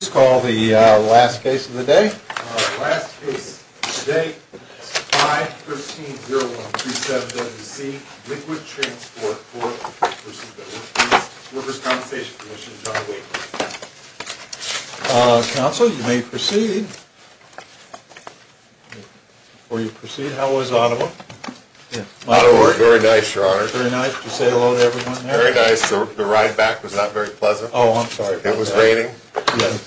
Please call the last case of the day. The last case of the day is 5-13-0127-WC, Liquid Transport Corp. v. Workers' Compensation Commission, John Wake. Counsel, you may proceed. Before you proceed, how was Ottawa? Ottawa was very nice, Your Honor. Very nice? Did you say hello to everyone there? Very nice. The ride back was not very pleasant. Oh, I'm sorry. It was raining.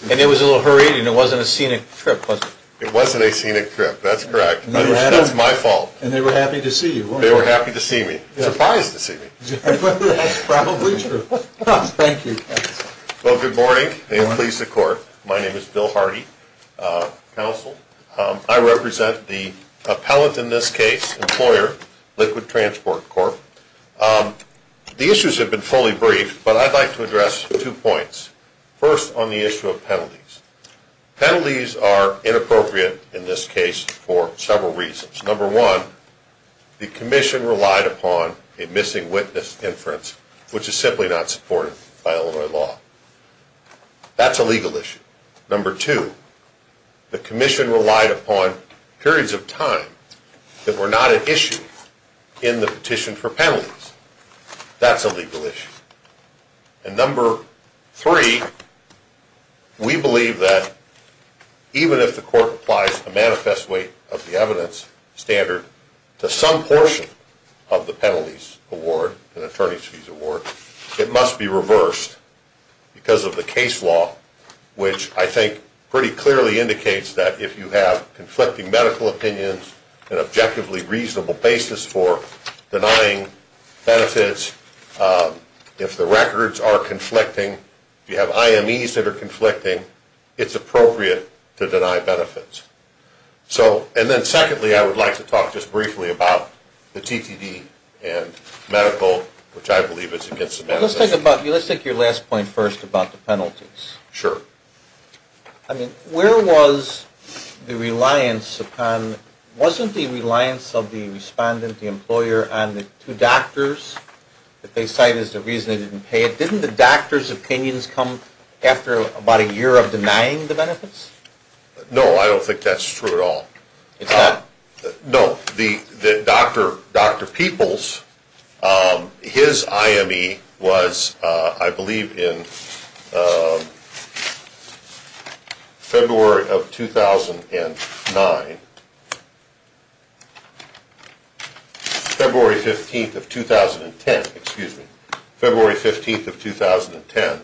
And it was a little hurried, and it wasn't a scenic trip, was it? It wasn't a scenic trip, that's correct. That's my fault. And they were happy to see you, weren't they? They were happy to see me. Surprised to see me. That's probably true. Thank you, Counsel. Well, good morning. May it please the Court, my name is Bill Hardy, Counsel. I represent the appellant in this case, Employer, Liquid Transport Corp. The issues have been fully briefed, but I'd like to address two points. First, on the issue of penalties. Penalties are inappropriate in this case for several reasons. Number one, the Commission relied upon a missing witness inference, which is simply not supported by Illinois law. That's a legal issue. Number two, the Commission relied upon periods of time that were not an issue in the petition for penalties. That's a legal issue. And number three, we believe that even if the Court applies a manifest weight of the evidence standard to some portion of the penalties award, an attorney's fees award, it must be reversed because of the case law, which I think pretty clearly indicates that if you have conflicting medical opinions, an objectively reasonable basis for denying benefits, if the records are conflicting, if you have IMEs that are conflicting, it's appropriate to deny benefits. And then secondly, I would like to talk just briefly about the TTD and medical, which I believe is against the manifest weight. Let's take your last point first about the penalties. Sure. I mean, where was the reliance upon, wasn't the reliance of the respondent, the employer, on the two doctors that they cite as the reason they didn't pay it? Didn't the doctor's opinions come after about a year of denying the benefits? No, I don't think that's true at all. No, Dr. Peoples, his IME was, I believe, in February of 2009. February 15th of 2010, excuse me, February 15th of 2010.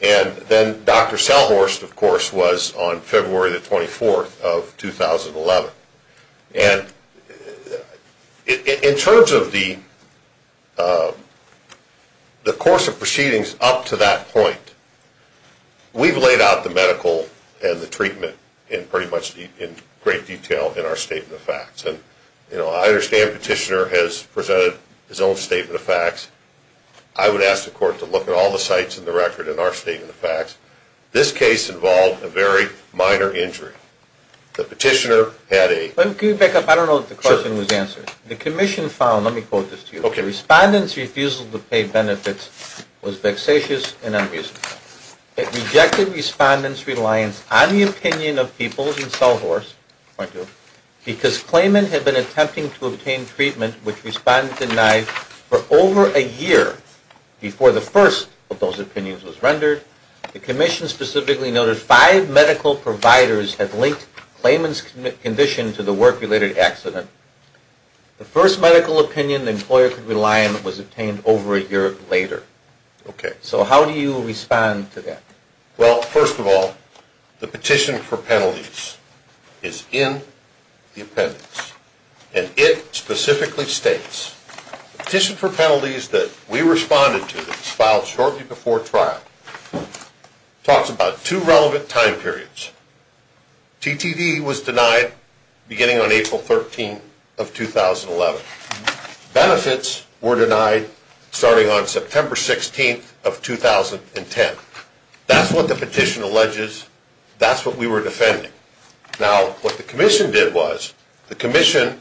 And then Dr. Sellhorst, of course, was on February the 24th of 2011. And in terms of the course of proceedings up to that point, we've laid out the medical and the treatment in pretty much in great detail in our statement of facts. You know, I understand Petitioner has presented his own statement of facts. I would ask the court to look at all the sites in the record in our statement of facts. This case involved a very minor injury. The Petitioner had a... Let me back up. I don't know if the question was answered. The commission found, let me quote this to you. Okay. Respondents' refusal to pay benefits was vexatious and unreasonable. It rejected respondents' reliance on the opinion of Peoples and Sellhorst, point two, because claimant had been attempting to obtain treatment which respondents denied for over a year before the first of those opinions was rendered. The commission specifically noted five medical providers had linked claimant's condition to the work-related accident. The first medical opinion the employer could rely on was obtained over a year later. Okay. So how do you respond to that? Well, first of all, the petition for penalties is in the appendix. And it specifically states, the petition for penalties that we responded to, that was filed shortly before trial, talks about two relevant time periods. TTD was denied beginning on April 13th of 2011. Benefits were denied starting on September 16th of 2010. That's what the petition alleges. That's what we were defending. Now, what the commission did was, the commission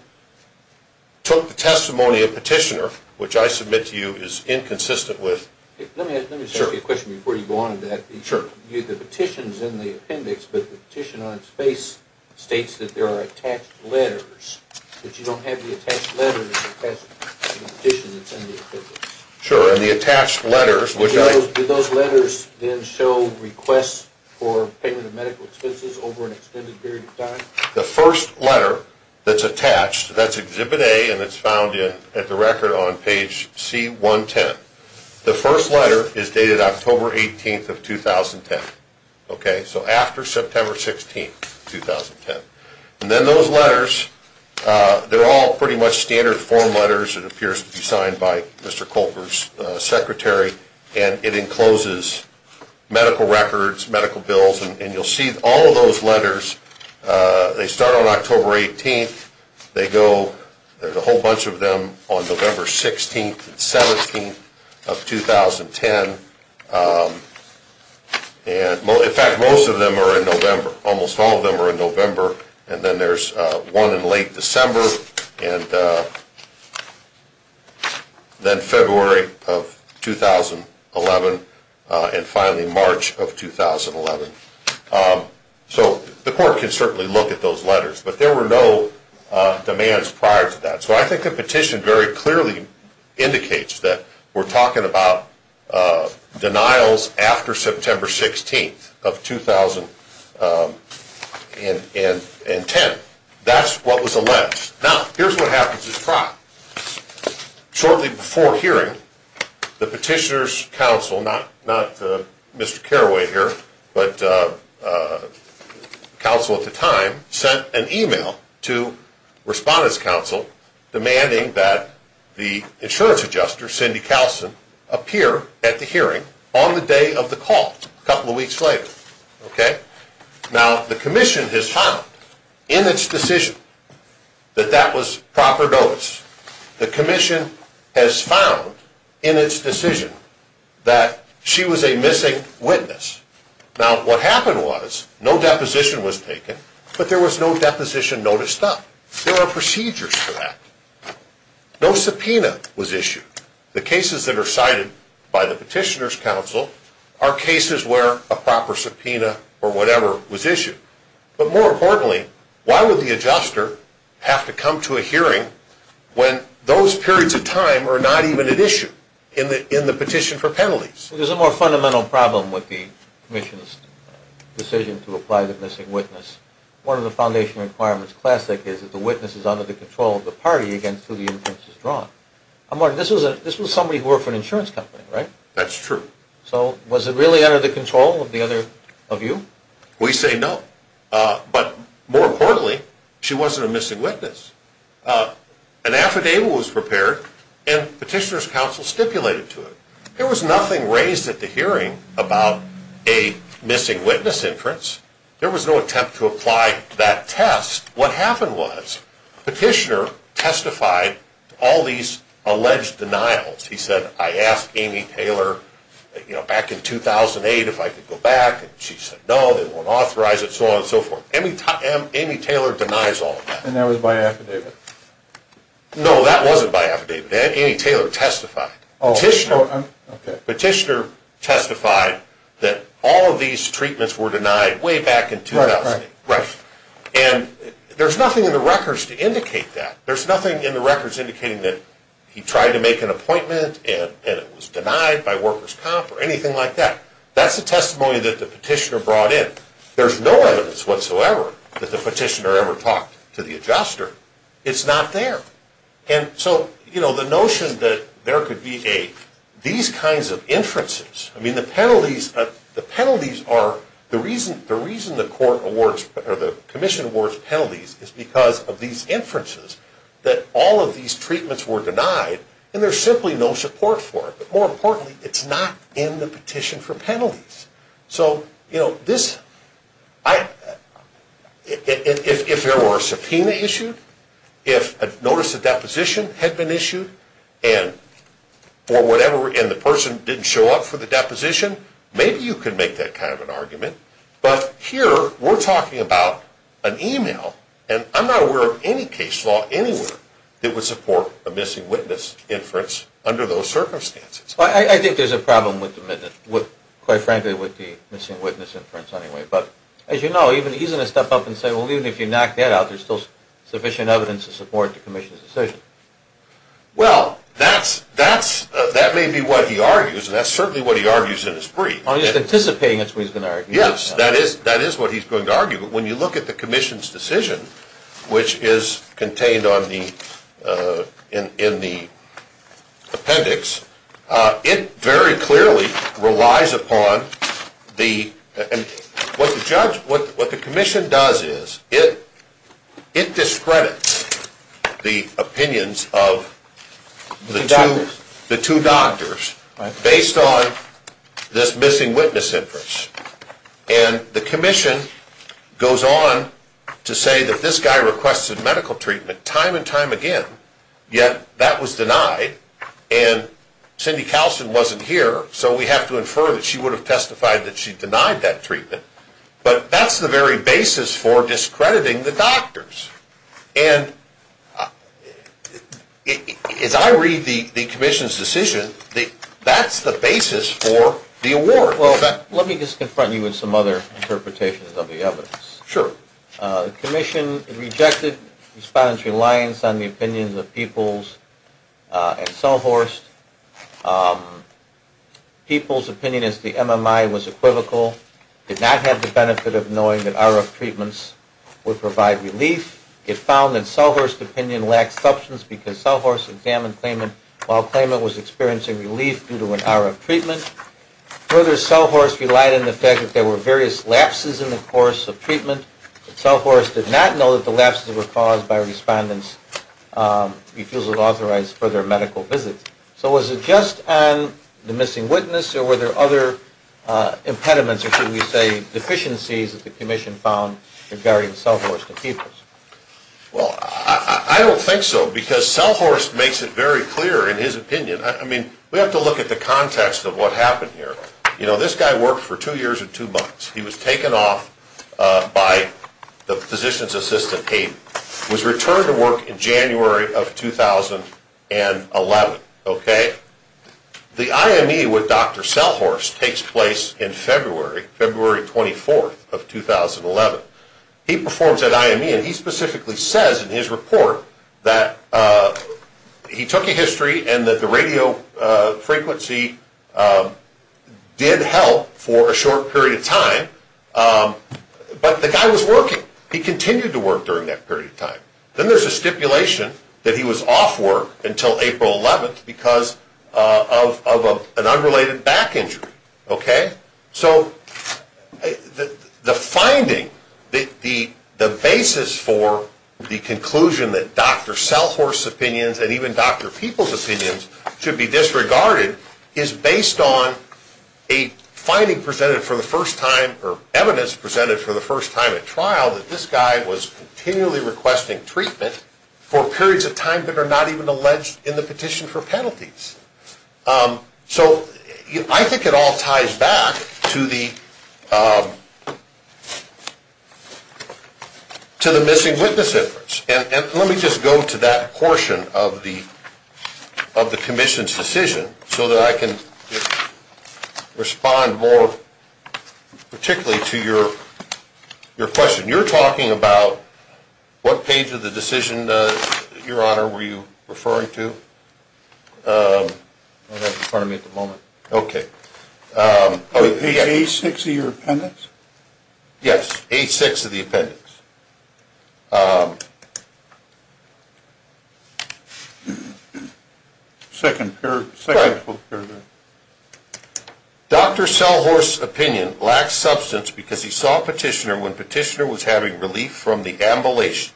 took the testimony of petitioner, which I submit to you is inconsistent with... Let me ask you a question before you go on to that. Sure. The petition's in the appendix, but the petition on its face states that there are attached letters, but you don't have the attached letters attached to the petition that's in the appendix. Sure. The attached letters, which I... Did those letters then show requests for payment of medical expenses over an extended period of time? The first letter that's attached, that's Exhibit A, and it's found at the record on page C110. The first letter is dated October 18th of 2010. Okay. So after September 16th, 2010. And then those letters, they're all pretty much standard form letters. It appears to be signed by Mr. Colker's secretary, and it encloses medical records, medical bills, and you'll see all of those letters, they start on October 18th. They go, there's a whole bunch of them on November 16th and 17th of 2010. In fact, most of them are in November. Almost all of them are in November. And then there's one in late December. And then February of 2011, and finally March of 2011. So the court can certainly look at those letters, but there were no demands prior to that. So I think the petition very clearly indicates that we're talking about denials after September 16th of 2010. That's what was alleged. Now, here's what happens at trial. Shortly before hearing, the petitioner's counsel, not Mr. Carraway here, but counsel at the time, sent an email to respondent's counsel demanding that the insurance adjuster, Cindy Kallsen, appear at the hearing on the day of the call, a couple of weeks later. Okay. Now, the commission has found in its decision that that was proper notice. The commission has found in its decision that she was a missing witness. Now, what happened was no deposition was taken, but there was no deposition noticed up. There are procedures for that. No subpoena was issued. The cases that are cited by the petitioner's counsel are cases where a proper subpoena or whatever was issued. But more importantly, why would the adjuster have to come to a hearing when those periods of time are not even at issue in the petition for penalties? There's a more fundamental problem with the commission's decision to apply the missing witness. One of the foundation requirements, classic, is that the witness is under the control of the party against who the inference is drawn. Mark, this was somebody who worked for an insurance company, right? That's true. So was it really under the control of the other of you? We say no. But more importantly, she wasn't a missing witness. An affidavit was prepared and petitioner's counsel stipulated to it. There was nothing raised at the hearing about a missing witness inference. There was no attempt to apply that test. What happened was, petitioner testified all these alleged denials. He said, I asked Amy Taylor, you know, back in 2008 if I could go back, and she said no, they won't authorize it, so on and so forth. Amy Taylor denies all of that. And that was by affidavit? No, that wasn't by affidavit. Amy Taylor testified. Petitioner testified that all of these treatments were denied way back in 2008. Right. And there's nothing in the records to indicate that. There's nothing in the records indicating that he tried to make an appointment, and it was denied by workers' comp, or anything like that. That's the testimony that the petitioner brought in. There's no evidence whatsoever that the petitioner ever talked to the adjuster. It's not there. And so, you know, the notion that there could be these kinds of inferences, I mean, the penalties are, the reason the court awards, or the commission awards penalties, is because of these inferences that all of these treatments were denied, and there's simply no support for it. But more importantly, it's not in the petition for penalties. So, you know, this, if there were a subpoena issued, if a notice of deposition had been issued, and for whatever, and the person didn't show up for the deposition, maybe you could make that kind of an argument. But here, we're talking about an email, and I'm not aware of any case law anywhere that would support a missing witness inference under those circumstances. I think there's a problem with the, quite frankly, with the missing witness inference anyway. But as you know, he's going to step up and say, well, even if you knock that out, there's still sufficient evidence to support the commission's decision. Well, that's, that's, that may be what he argues, and that's certainly what he argues in his brief. Oh, he's anticipating that's what he's going to argue. Yes, that is, that is what he's going to argue. But when you look at the commission's decision, which is contained on the, in the appendix, it very clearly relies upon the, and what the judge, what the commission does is, it discredits the opinions of the two doctors based on this missing witness inference. And the commission goes on to say that this guy requested medical treatment time and time again, yet that was denied, and Cindy Kallsen wasn't here, so we have to infer that she would have testified that she denied that treatment. But that's the very basis for discrediting the doctors. And as I read the commission's decision, that's the basis for the award. Well, let me just confront you with some other interpretations of the evidence. Sure. The commission rejected respondents' reliance on the opinions of Peoples and Sohorst. Peoples' opinion is the MMI was equivocal, did not have the benefit of knowing that RF treatments would provide relief. It found that Sohorst's opinion lacked substance because Sohorst examined Klayman while Klayman was experiencing relief due to an RF treatment. Further, Sohorst relied on the fact that there were various lapses in the course of treatment, but Sohorst did not know that the lapses were caused by respondents' refusal to authorize further medical visits. So was it just on the missing witness, or were there other impediments, or should we say deficiencies, that the commission found regarding Sohorst and Peoples? Well, I don't think so, because Sohorst makes it very clear in his opinion. I mean, we have to look at the context of what happened here. You know, this guy worked for two years and two months. He was taken off by the physician's assistant, Hayden. He was returned to work in January of 2011. The IME with Dr. Sellhorst takes place in February, February 24th of 2011. He performs at IME, and he specifically says in his report that he took a history and that the radio frequency did help for a short period of time, but the guy was working. He continued to work during that period of time. Then there's a stipulation that he was off work until April 11th because of an unrelated back injury, okay? So the finding, the basis for the conclusion that Dr. Sellhorst's opinions and even Dr. Peoples' opinions should be disregarded is based on a finding presented for the first time, or evidence presented for the first time at trial, that this guy was continually requesting treatment for periods of time that are not even alleged in the petition for penalties. So I think it all ties back to the missing witness efforts, and let me just go to that portion of the commission's decision so that I can respond more particularly to your question. You're talking about what page of the decision, Your Honor, were you referring to? I don't have it in front of me at the moment. Okay. Page A6 of your appendix? Yes, A6 of the appendix. All right. Second paragraph. Dr. Sellhorst's opinion lacked substance because he saw Petitioner when Petitioner was having relief from the ablations.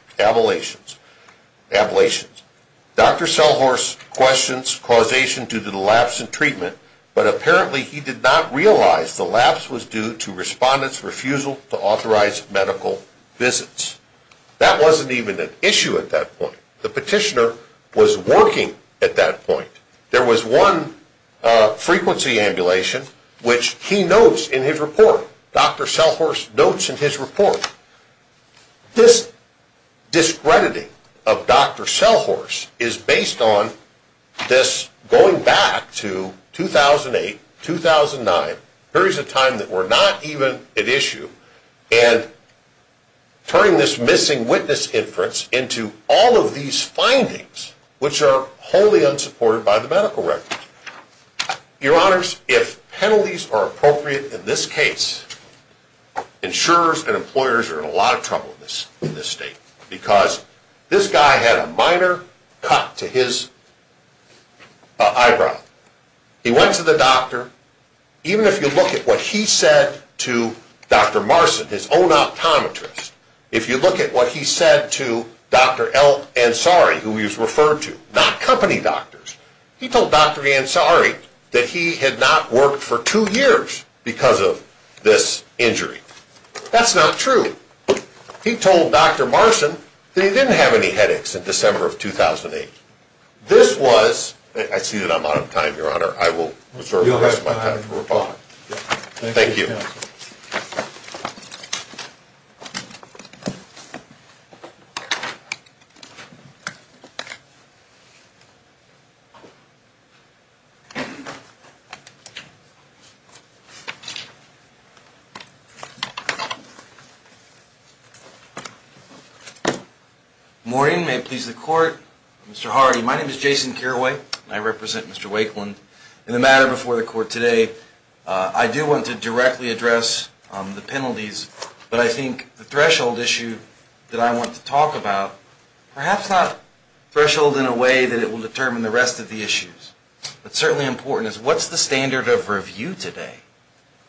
Dr. Sellhorst questions causation due to the lapse in treatment, but apparently he did not realize the lapse was due to respondents' refusal to authorize medical visits. That wasn't even an issue at that point. The Petitioner was working at that point. There was one frequency ambulation, which he notes in his report. Dr. Sellhorst notes in his report. This discrediting of Dr. Sellhorst is based on this going back to 2008, 2009, periods of time that were not even at issue, and turning this missing witness inference into all of these findings, which are wholly unsupported by the medical records. Your Honors, if penalties are appropriate in this case, insurers and employers are in a lot of trouble in this state because this guy had a minor cut to his eyebrow. He went to the doctor. Even if you look at what he said to Dr. Marson, his own optometrist, if you look at what he said to Dr. Ansari, who he was referred to, not company doctors, he told Dr. Ansari that he had not worked for two years because of this injury. That's not true. He told Dr. Marson that he didn't have any headaches in December of 2008. This was, I see that I'm out of time, Your Honor. I will reserve the rest of my time for rebuttal. Thank you. Thank you. Good morning. May it please the Court. I'm Mr. Hardy. My name is Jason Carraway. I represent Mr. Wakeland. In the matter before the Court today, I do want to directly address the penalties, but I think the threshold issue that I want to talk about, perhaps not threshold in a way that it will determine the rest of the issues, but certainly important is what's the standard of review today?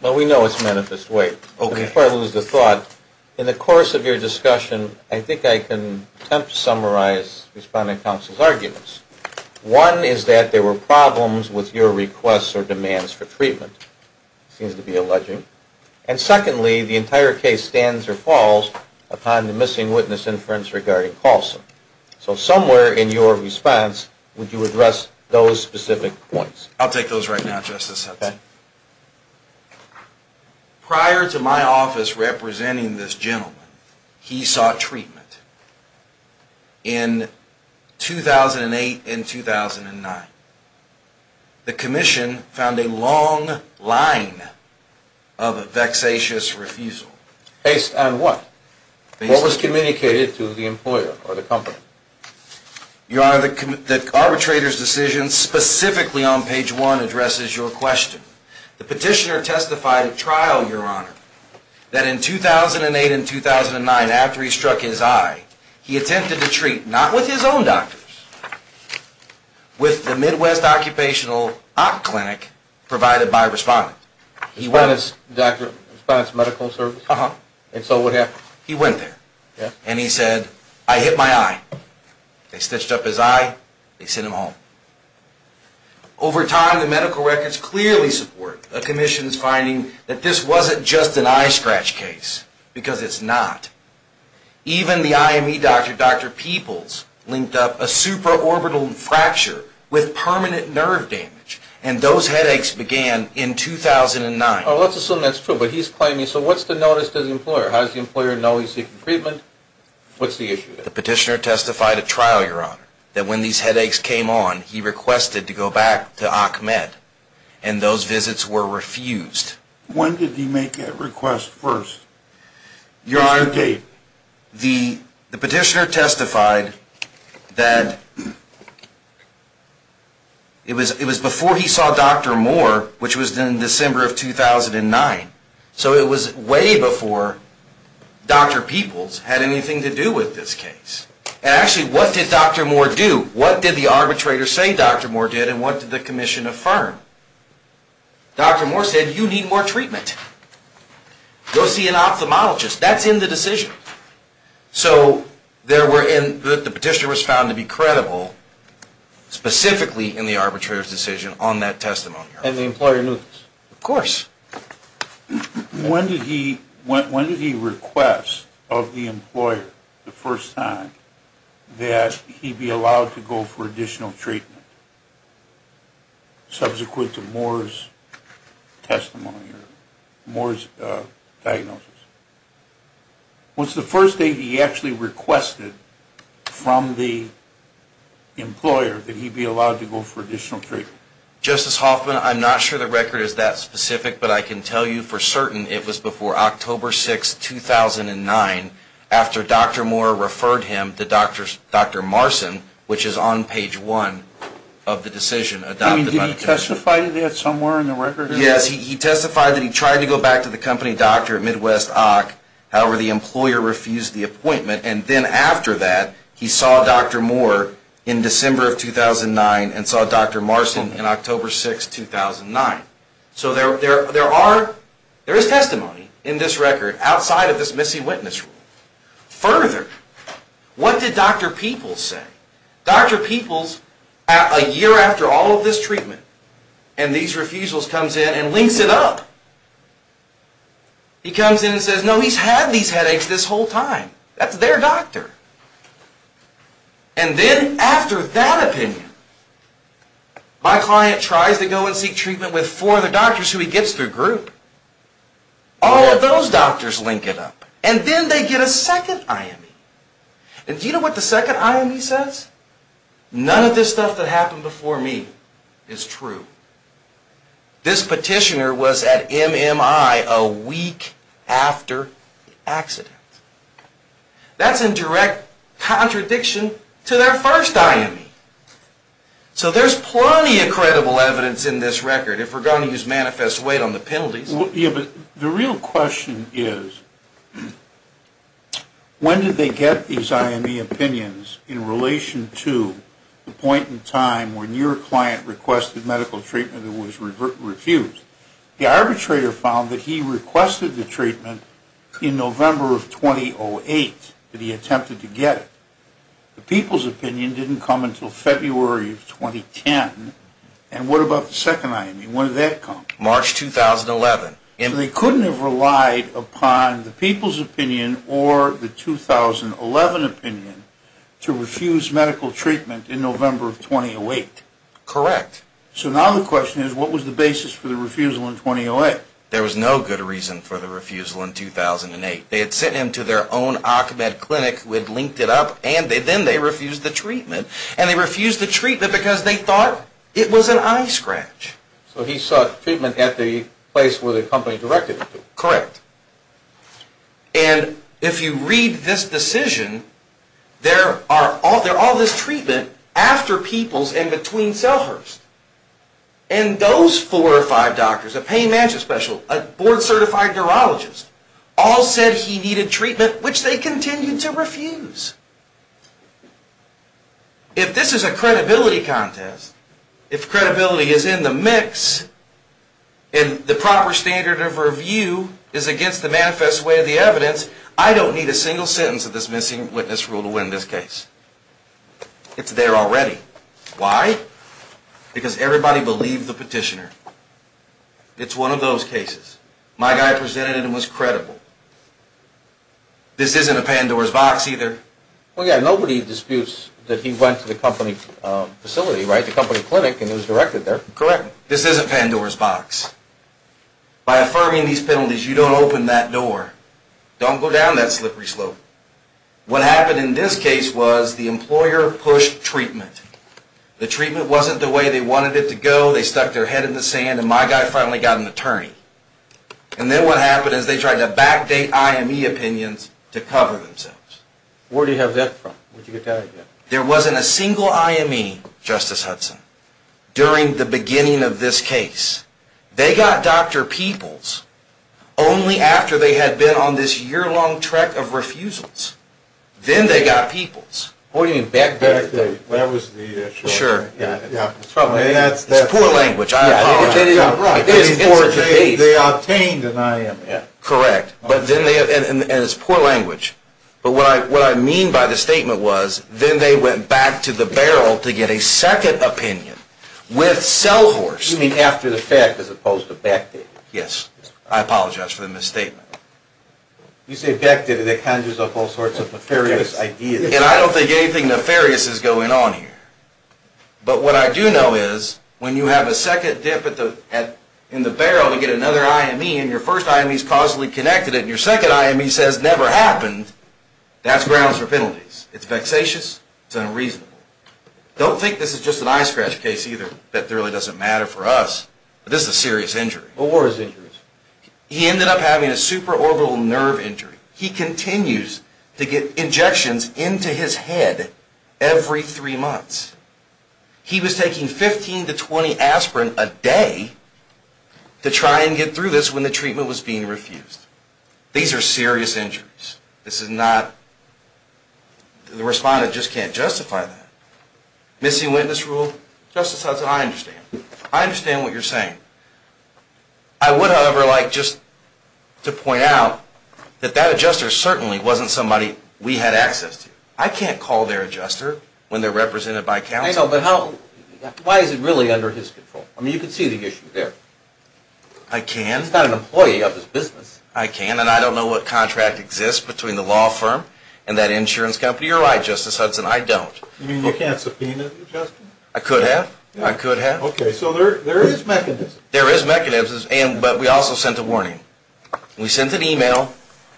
Well, we know it's manifest way. Okay. Before I lose the thought, in the course of your discussion, I think I can attempt to summarize Respondent Counsel's arguments. One is that there were problems with your requests or demands for treatment, it seems to be alleging. And secondly, the entire case stands or falls upon the missing witness inference regarding Carlson. So somewhere in your response, would you address those specific points? I'll take those right now, Justice Hudson. Prior to my office representing this gentleman, he sought treatment in 2008 and 2009. The Commission found a long line of a vexatious refusal. Based on what? What was communicated to the employer or the company? Your Honor, the arbitrator's decision specifically on page one addresses your question. The petitioner testified at trial, Your Honor, that in 2008 and 2009, after he struck his eye, he went to the IME doctors with the Midwest Occupational Op Clinic provided by Respondent. He went as Dr. Respondent's medical service? Uh-huh. And so what happened? He went there. And he said, I hit my eye. They stitched up his eye. They sent him home. Over time, the medical records clearly support the Commission's finding that this wasn't just an eye scratch case, because it's not. Even the IME doctor, Dr. Peoples, linked up a supraorbital fracture with permanent nerve damage. And those headaches began in 2009. Oh, let's assume that's true. But he's claiming, so what's the notice to the employer? How does the employer know he's seeking treatment? What's the issue there? The petitioner testified at trial, Your Honor, that when these headaches came on, he requested to go back to OCMED, and those visits were refused. When did he make that request first? Your Honor, the petitioner testified that it was before he saw Dr. Moore, which was in December of 2009. So it was way before Dr. Peoples had anything to do with this case. And actually, what did Dr. Moore do? What did the arbitrator say Dr. Moore did? And what did the Commission affirm? Dr. Moore said, you need more treatment. Go see an ophthalmologist. That's in the decision. So the petitioner was found to be credible, specifically in the arbitrator's decision on that testimony, Your Honor. And the employer knew this? Of course. When did he request of the employer the first time that he be allowed to go for additional treatment, subsequent to Moore's testimony, Your Honor? Moore's diagnosis? Was the first date he actually requested from the employer that he be allowed to go for additional treatment? Justice Hoffman, I'm not sure the record is that specific, but I can tell you for certain it was before October 6, 2009, after Dr. Moore referred him to Dr. Marson, which is on page one of the decision adopted by the Commission. I mean, did he testify to that somewhere in the record? Yes, he testified that he tried to go back to the company doctor at Midwest Ock. However, the employer refused the appointment. And then after that, he saw Dr. Moore in December of 2009, and saw Dr. Marson in October 6, 2009. So there is testimony in this record outside of this missing witness rule. Further, what did Dr. Peoples say? Dr. Peoples, a year after all of this treatment and these refusals comes in and links it up. He comes in and says, no, he's had these headaches this whole time. That's their doctor. And then after that opinion, my client tries to go and seek treatment with four of the doctors who he gets through group. All of those doctors link it up. And then they get a second IME. And do you know what the second IME says? None of this stuff that happened before me is true. This petitioner was at MMI a week after the accident. That's in direct contradiction to their first IME. So there's plenty of credible evidence in this record. If we're going to use manifest weight on the penalties. The real question is, when did they get these IME opinions in relation to the point in time when your client requested medical treatment and was refused? The arbitrator found that he requested the treatment in November of 2008, that he attempted to get it. The Peoples opinion didn't come until February of 2010. And what about the second IME? When did that come? March 2011. And they couldn't have relied upon the Peoples opinion or the 2011 opinion to refuse medical treatment in November of 2008? Correct. So now the question is, what was the basis for the refusal in 2008? There was no good reason for the refusal in 2008. They had sent him to their own Occ Med clinic who had linked it up. And then they refused the treatment. And they refused the treatment because they thought it was an eye scratch. So he sought treatment at the place where the company directed him to. Correct. And if you read this decision, there are all this treatment after Peoples and between Selhurst. And those four or five doctors, a pain manager special, a board certified neurologist, all said he needed treatment, which they continued to refuse. If this is a credibility contest, if credibility is in the mix, and the proper standard of review is against the manifest way of the evidence, I don't need a single sentence of this missing witness rule to win this case. It's there already. Why? Because everybody believed the petitioner. It's one of those cases. My guy presented it and was credible. This isn't a Pandora's box either. Well, yeah, nobody disputes that he went to the company facility, right? The company clinic, and it was directed there. Correct. This isn't Pandora's box. By affirming these penalties, you don't open that door. Don't go down that slippery slope. What happened in this case was the employer pushed treatment. The treatment wasn't the way they wanted it to go. They stuck their head in the sand. And my guy finally got an attorney. And then what happened is they tried to backdate IME opinions to cover themselves. Where do you have that from? There wasn't a single IME, Justice Hudson, during the beginning of this case. They got Dr. Peoples only after they had been on this year-long track of refusals. Then they got Peoples. What do you mean backdate? That was the issue. Sure. It's poor language. They obtained an IME. Correct. And it's poor language. But what I mean by the statement was, then they went back to the barrel to get a second opinion. With Selhorst. You mean after the fact, as opposed to backdated? Yes. I apologize for the misstatement. You say backdated, that conjures up all sorts of nefarious ideas. And I don't think anything nefarious is going on here. But what I do know is, when you have a second dip in the barrel to get another IME, and your first IME is causally connected, and your second IME says never happened, that's grounds for penalties. It's vexatious. It's unreasonable. Don't think this is just an eye scratch case either. That really doesn't matter for us. But this is a serious injury. What were his injuries? He ended up having a superorbital nerve injury. He continues to get injections into his head every three months. He was taking 15 to 20 aspirin a day to try and get through this when the treatment was being refused. These are serious injuries. This is not... The respondent just can't justify that. Missing witness rule? Justice Hudson, I understand. I understand what you're saying. I would, however, like just to point out that that adjuster certainly wasn't somebody we had access to. I can't call their adjuster when they're represented by counsel. I know, but how... Why is it really under his control? I mean, you can see the issue there. I can. He's not an employee of his business. I can, and I don't know what contract exists between the law firm and that insurance company. You're right, Justice Hudson. I don't. You mean you can't subpoena adjustments? I could have. I could have. Okay, so there is mechanisms. There is mechanisms, but we also sent a warning. We sent an email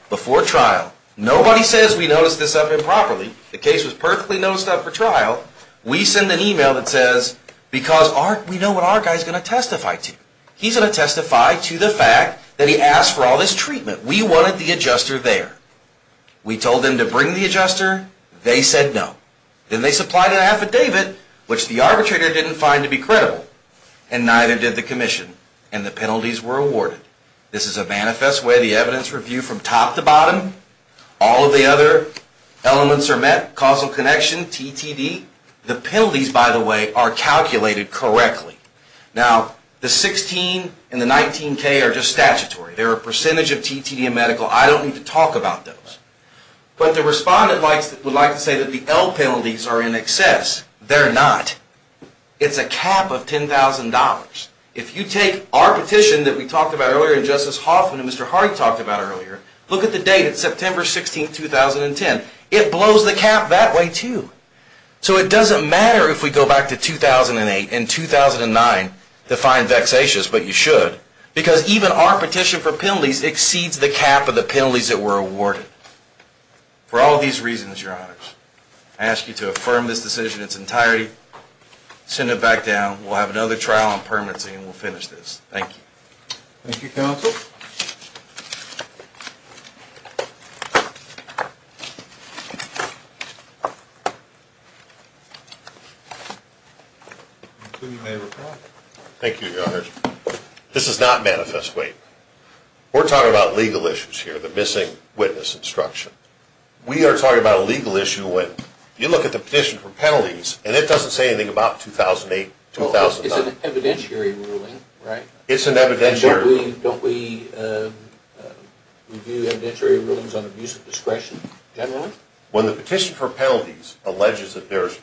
before trial. Nobody says we noticed this up improperly. The case was perfectly noticed up for trial. We send an email that says, because we know what our guy's going to testify to. He's going to testify to the fact that he asked for all this treatment. We wanted the adjuster there. We told them to bring the adjuster. They said no. Then they supplied an affidavit, which the arbitrator didn't find to be credible, and neither did the commission, and the penalties were awarded. This is a manifest way the evidence review from top to bottom. All of the other elements are met. Causal connection, TTD. The penalties, by the way, are calculated correctly. Now, the 16 and the 19K are just statutory. They're a percentage of TTD and medical. I don't need to talk about those, but the respondent would like to say that the L penalties are in excess. They're not. It's a cap of $10,000. If you take our petition that we talked about earlier, and Justice Hoffman and Mr. Hardy talked about earlier, look at the date. It's September 16, 2010. It blows the cap that way, too. So it doesn't matter if we go back to 2008 and 2009 to find vexatious, but you should, because even our petition for penalties exceeds the cap of the penalties that were awarded. For all these reasons, Your Honors, I ask you to affirm this decision in its entirety. Send it back down. We'll have another trial on permanency, and we'll finish this. Thank you. Thank you, counsel. Thank you, Your Honors. This is not manifest weight. We're talking about legal issues here, the missing witness instruction. We are talking about a legal issue when you look at the petition for penalties, and it doesn't say anything about 2008, 2009. It's an evidentiary ruling, right? It's an evidentiary. Don't we review evidentiary rulings on abuse of discretion generally? When the petition for penalties alleges that there's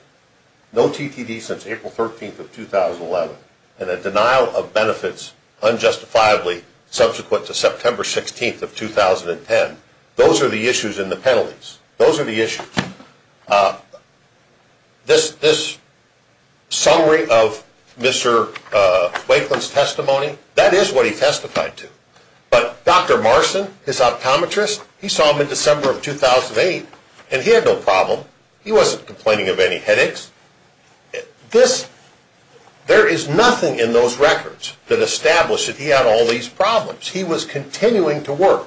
no TTD since April 13, 2011, and a denial of benefits unjustifiably subsequent to September 16, 2010, those are the issues in the penalties. Those are the issues. This summary of Mr. Wakeland's testimony, that is what he testified to. But Dr. Marcin, his optometrist, he saw him in December of 2008, and he had no problem. He wasn't complaining of any headaches. There is nothing in those records that established that he had all these problems. He was continuing to work.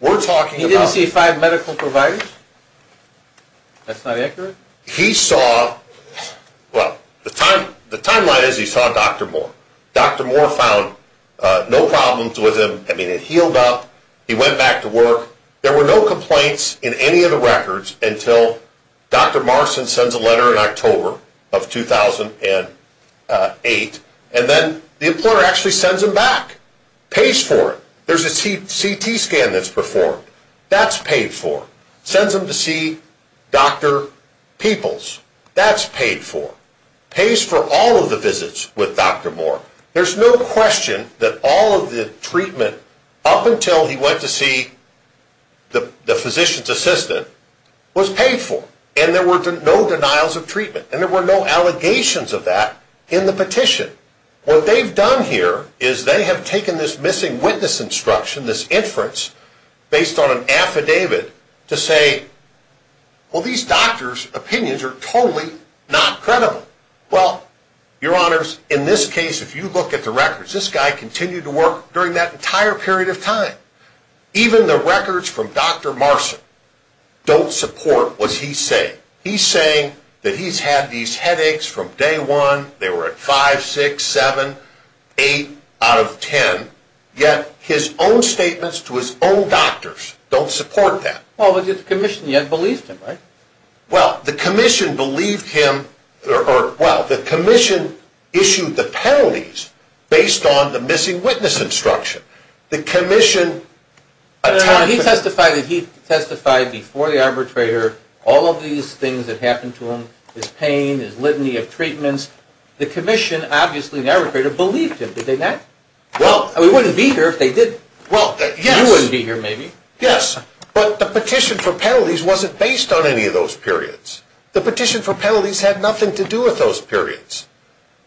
We're talking about— He didn't see five medical providers? That's not accurate? He saw—well, the timeline is he saw Dr. Moore. Dr. Moore found no problems with him. I mean, it healed up. He went back to work. There were no complaints in any of the records until Dr. Marcin sends a letter in October of 2008, and then the employer actually sends him back. Pays for it. There's a CT scan that's performed. That's paid for. Sends him to see Dr. Peoples. That's paid for. Pays for all of the visits with Dr. Moore. There's no question that all of the treatment up until he went to see the physician's assistant was paid for, and there were no denials of treatment, and there were no allegations of that in the petition. What they've done here is they have taken this missing witness instruction, this inference based on an affidavit to say, well, these doctors' opinions are totally not credible. Well, your honors, in this case, if you look at the records, this guy continued to work during that entire period of time. Even the records from Dr. Marcin don't support what he's saying. He's saying that he's had these headaches from day one. They were at 5, 6, 7, 8 out of 10, yet his own statements to his own doctors don't support that. Well, the commission yet believed him, right? Well, the commission believed him, or, well, the commission issued the penalties based on the missing witness instruction. The commission... Your honor, he testified that he testified before the arbitrator all of these things that happened to him, his pain, his litany of treatments. The commission, obviously, the arbitrator believed him, did they not? Well... I mean, he wouldn't be here if they did. Well, yes... He wouldn't be here, maybe. Yes, but the petition for penalties wasn't based on any of those periods. The petition for penalties had nothing to do with those periods.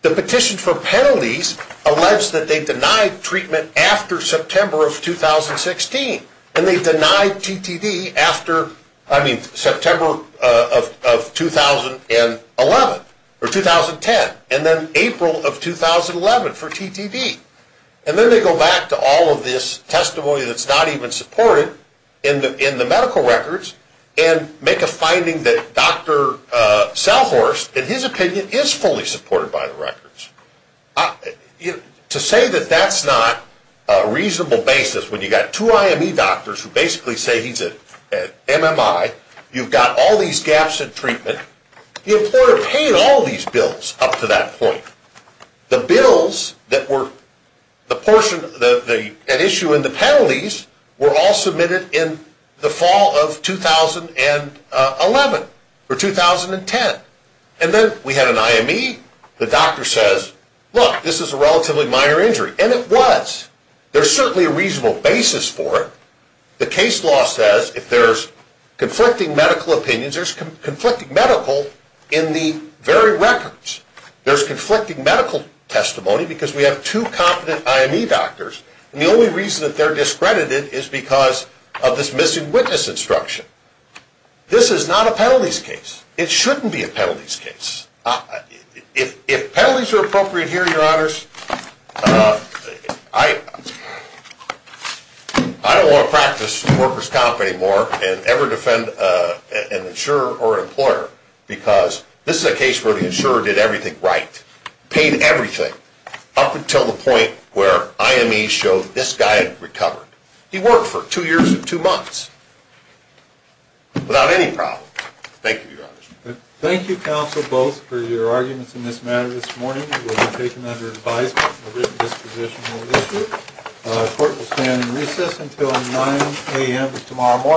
The petition for penalties alleges that they denied treatment after September of 2016, and they denied TTD after, I mean, September of 2011, or 2010, and then April of 2011 for TTD. And then they go back to all of this testimony that's not even supported in the medical records and make a finding that Dr. Salhorst, in his opinion, is fully supported by the records. To say that that's not a reasonable basis when you've got two IME doctors who basically say he's an MMI, you've got all these gaps in treatment, the employer paid all these bills up to that point. The bills that were an issue in the penalties were all submitted in the fall of 2011, or 2010. And then we had an IME, the doctor says, look, this is a relatively minor injury, and it was. There's certainly a reasonable basis for it. The case law says if there's conflicting medical opinions, there's conflicting medical in the very records. There's conflicting medical testimony because we have two competent IME doctors, and the only reason that they're discredited is because of this missing witness instruction. This is not a penalties case. It shouldn't be a penalties case. If penalties are appropriate here, your honors, I don't want to practice worker's comp anymore and ever defend an insurer or an employer because this is a case where the insurer did everything right, paid everything, up until the point where IME showed this guy had recovered. He worked for two years and two months without any problems. Thank you, your honors. Thank you, counsel, both, for your arguments in this matter this morning. It will be taken under advisement. A written disposition will issue. The court will stand in recess until 9 a.m. tomorrow morning.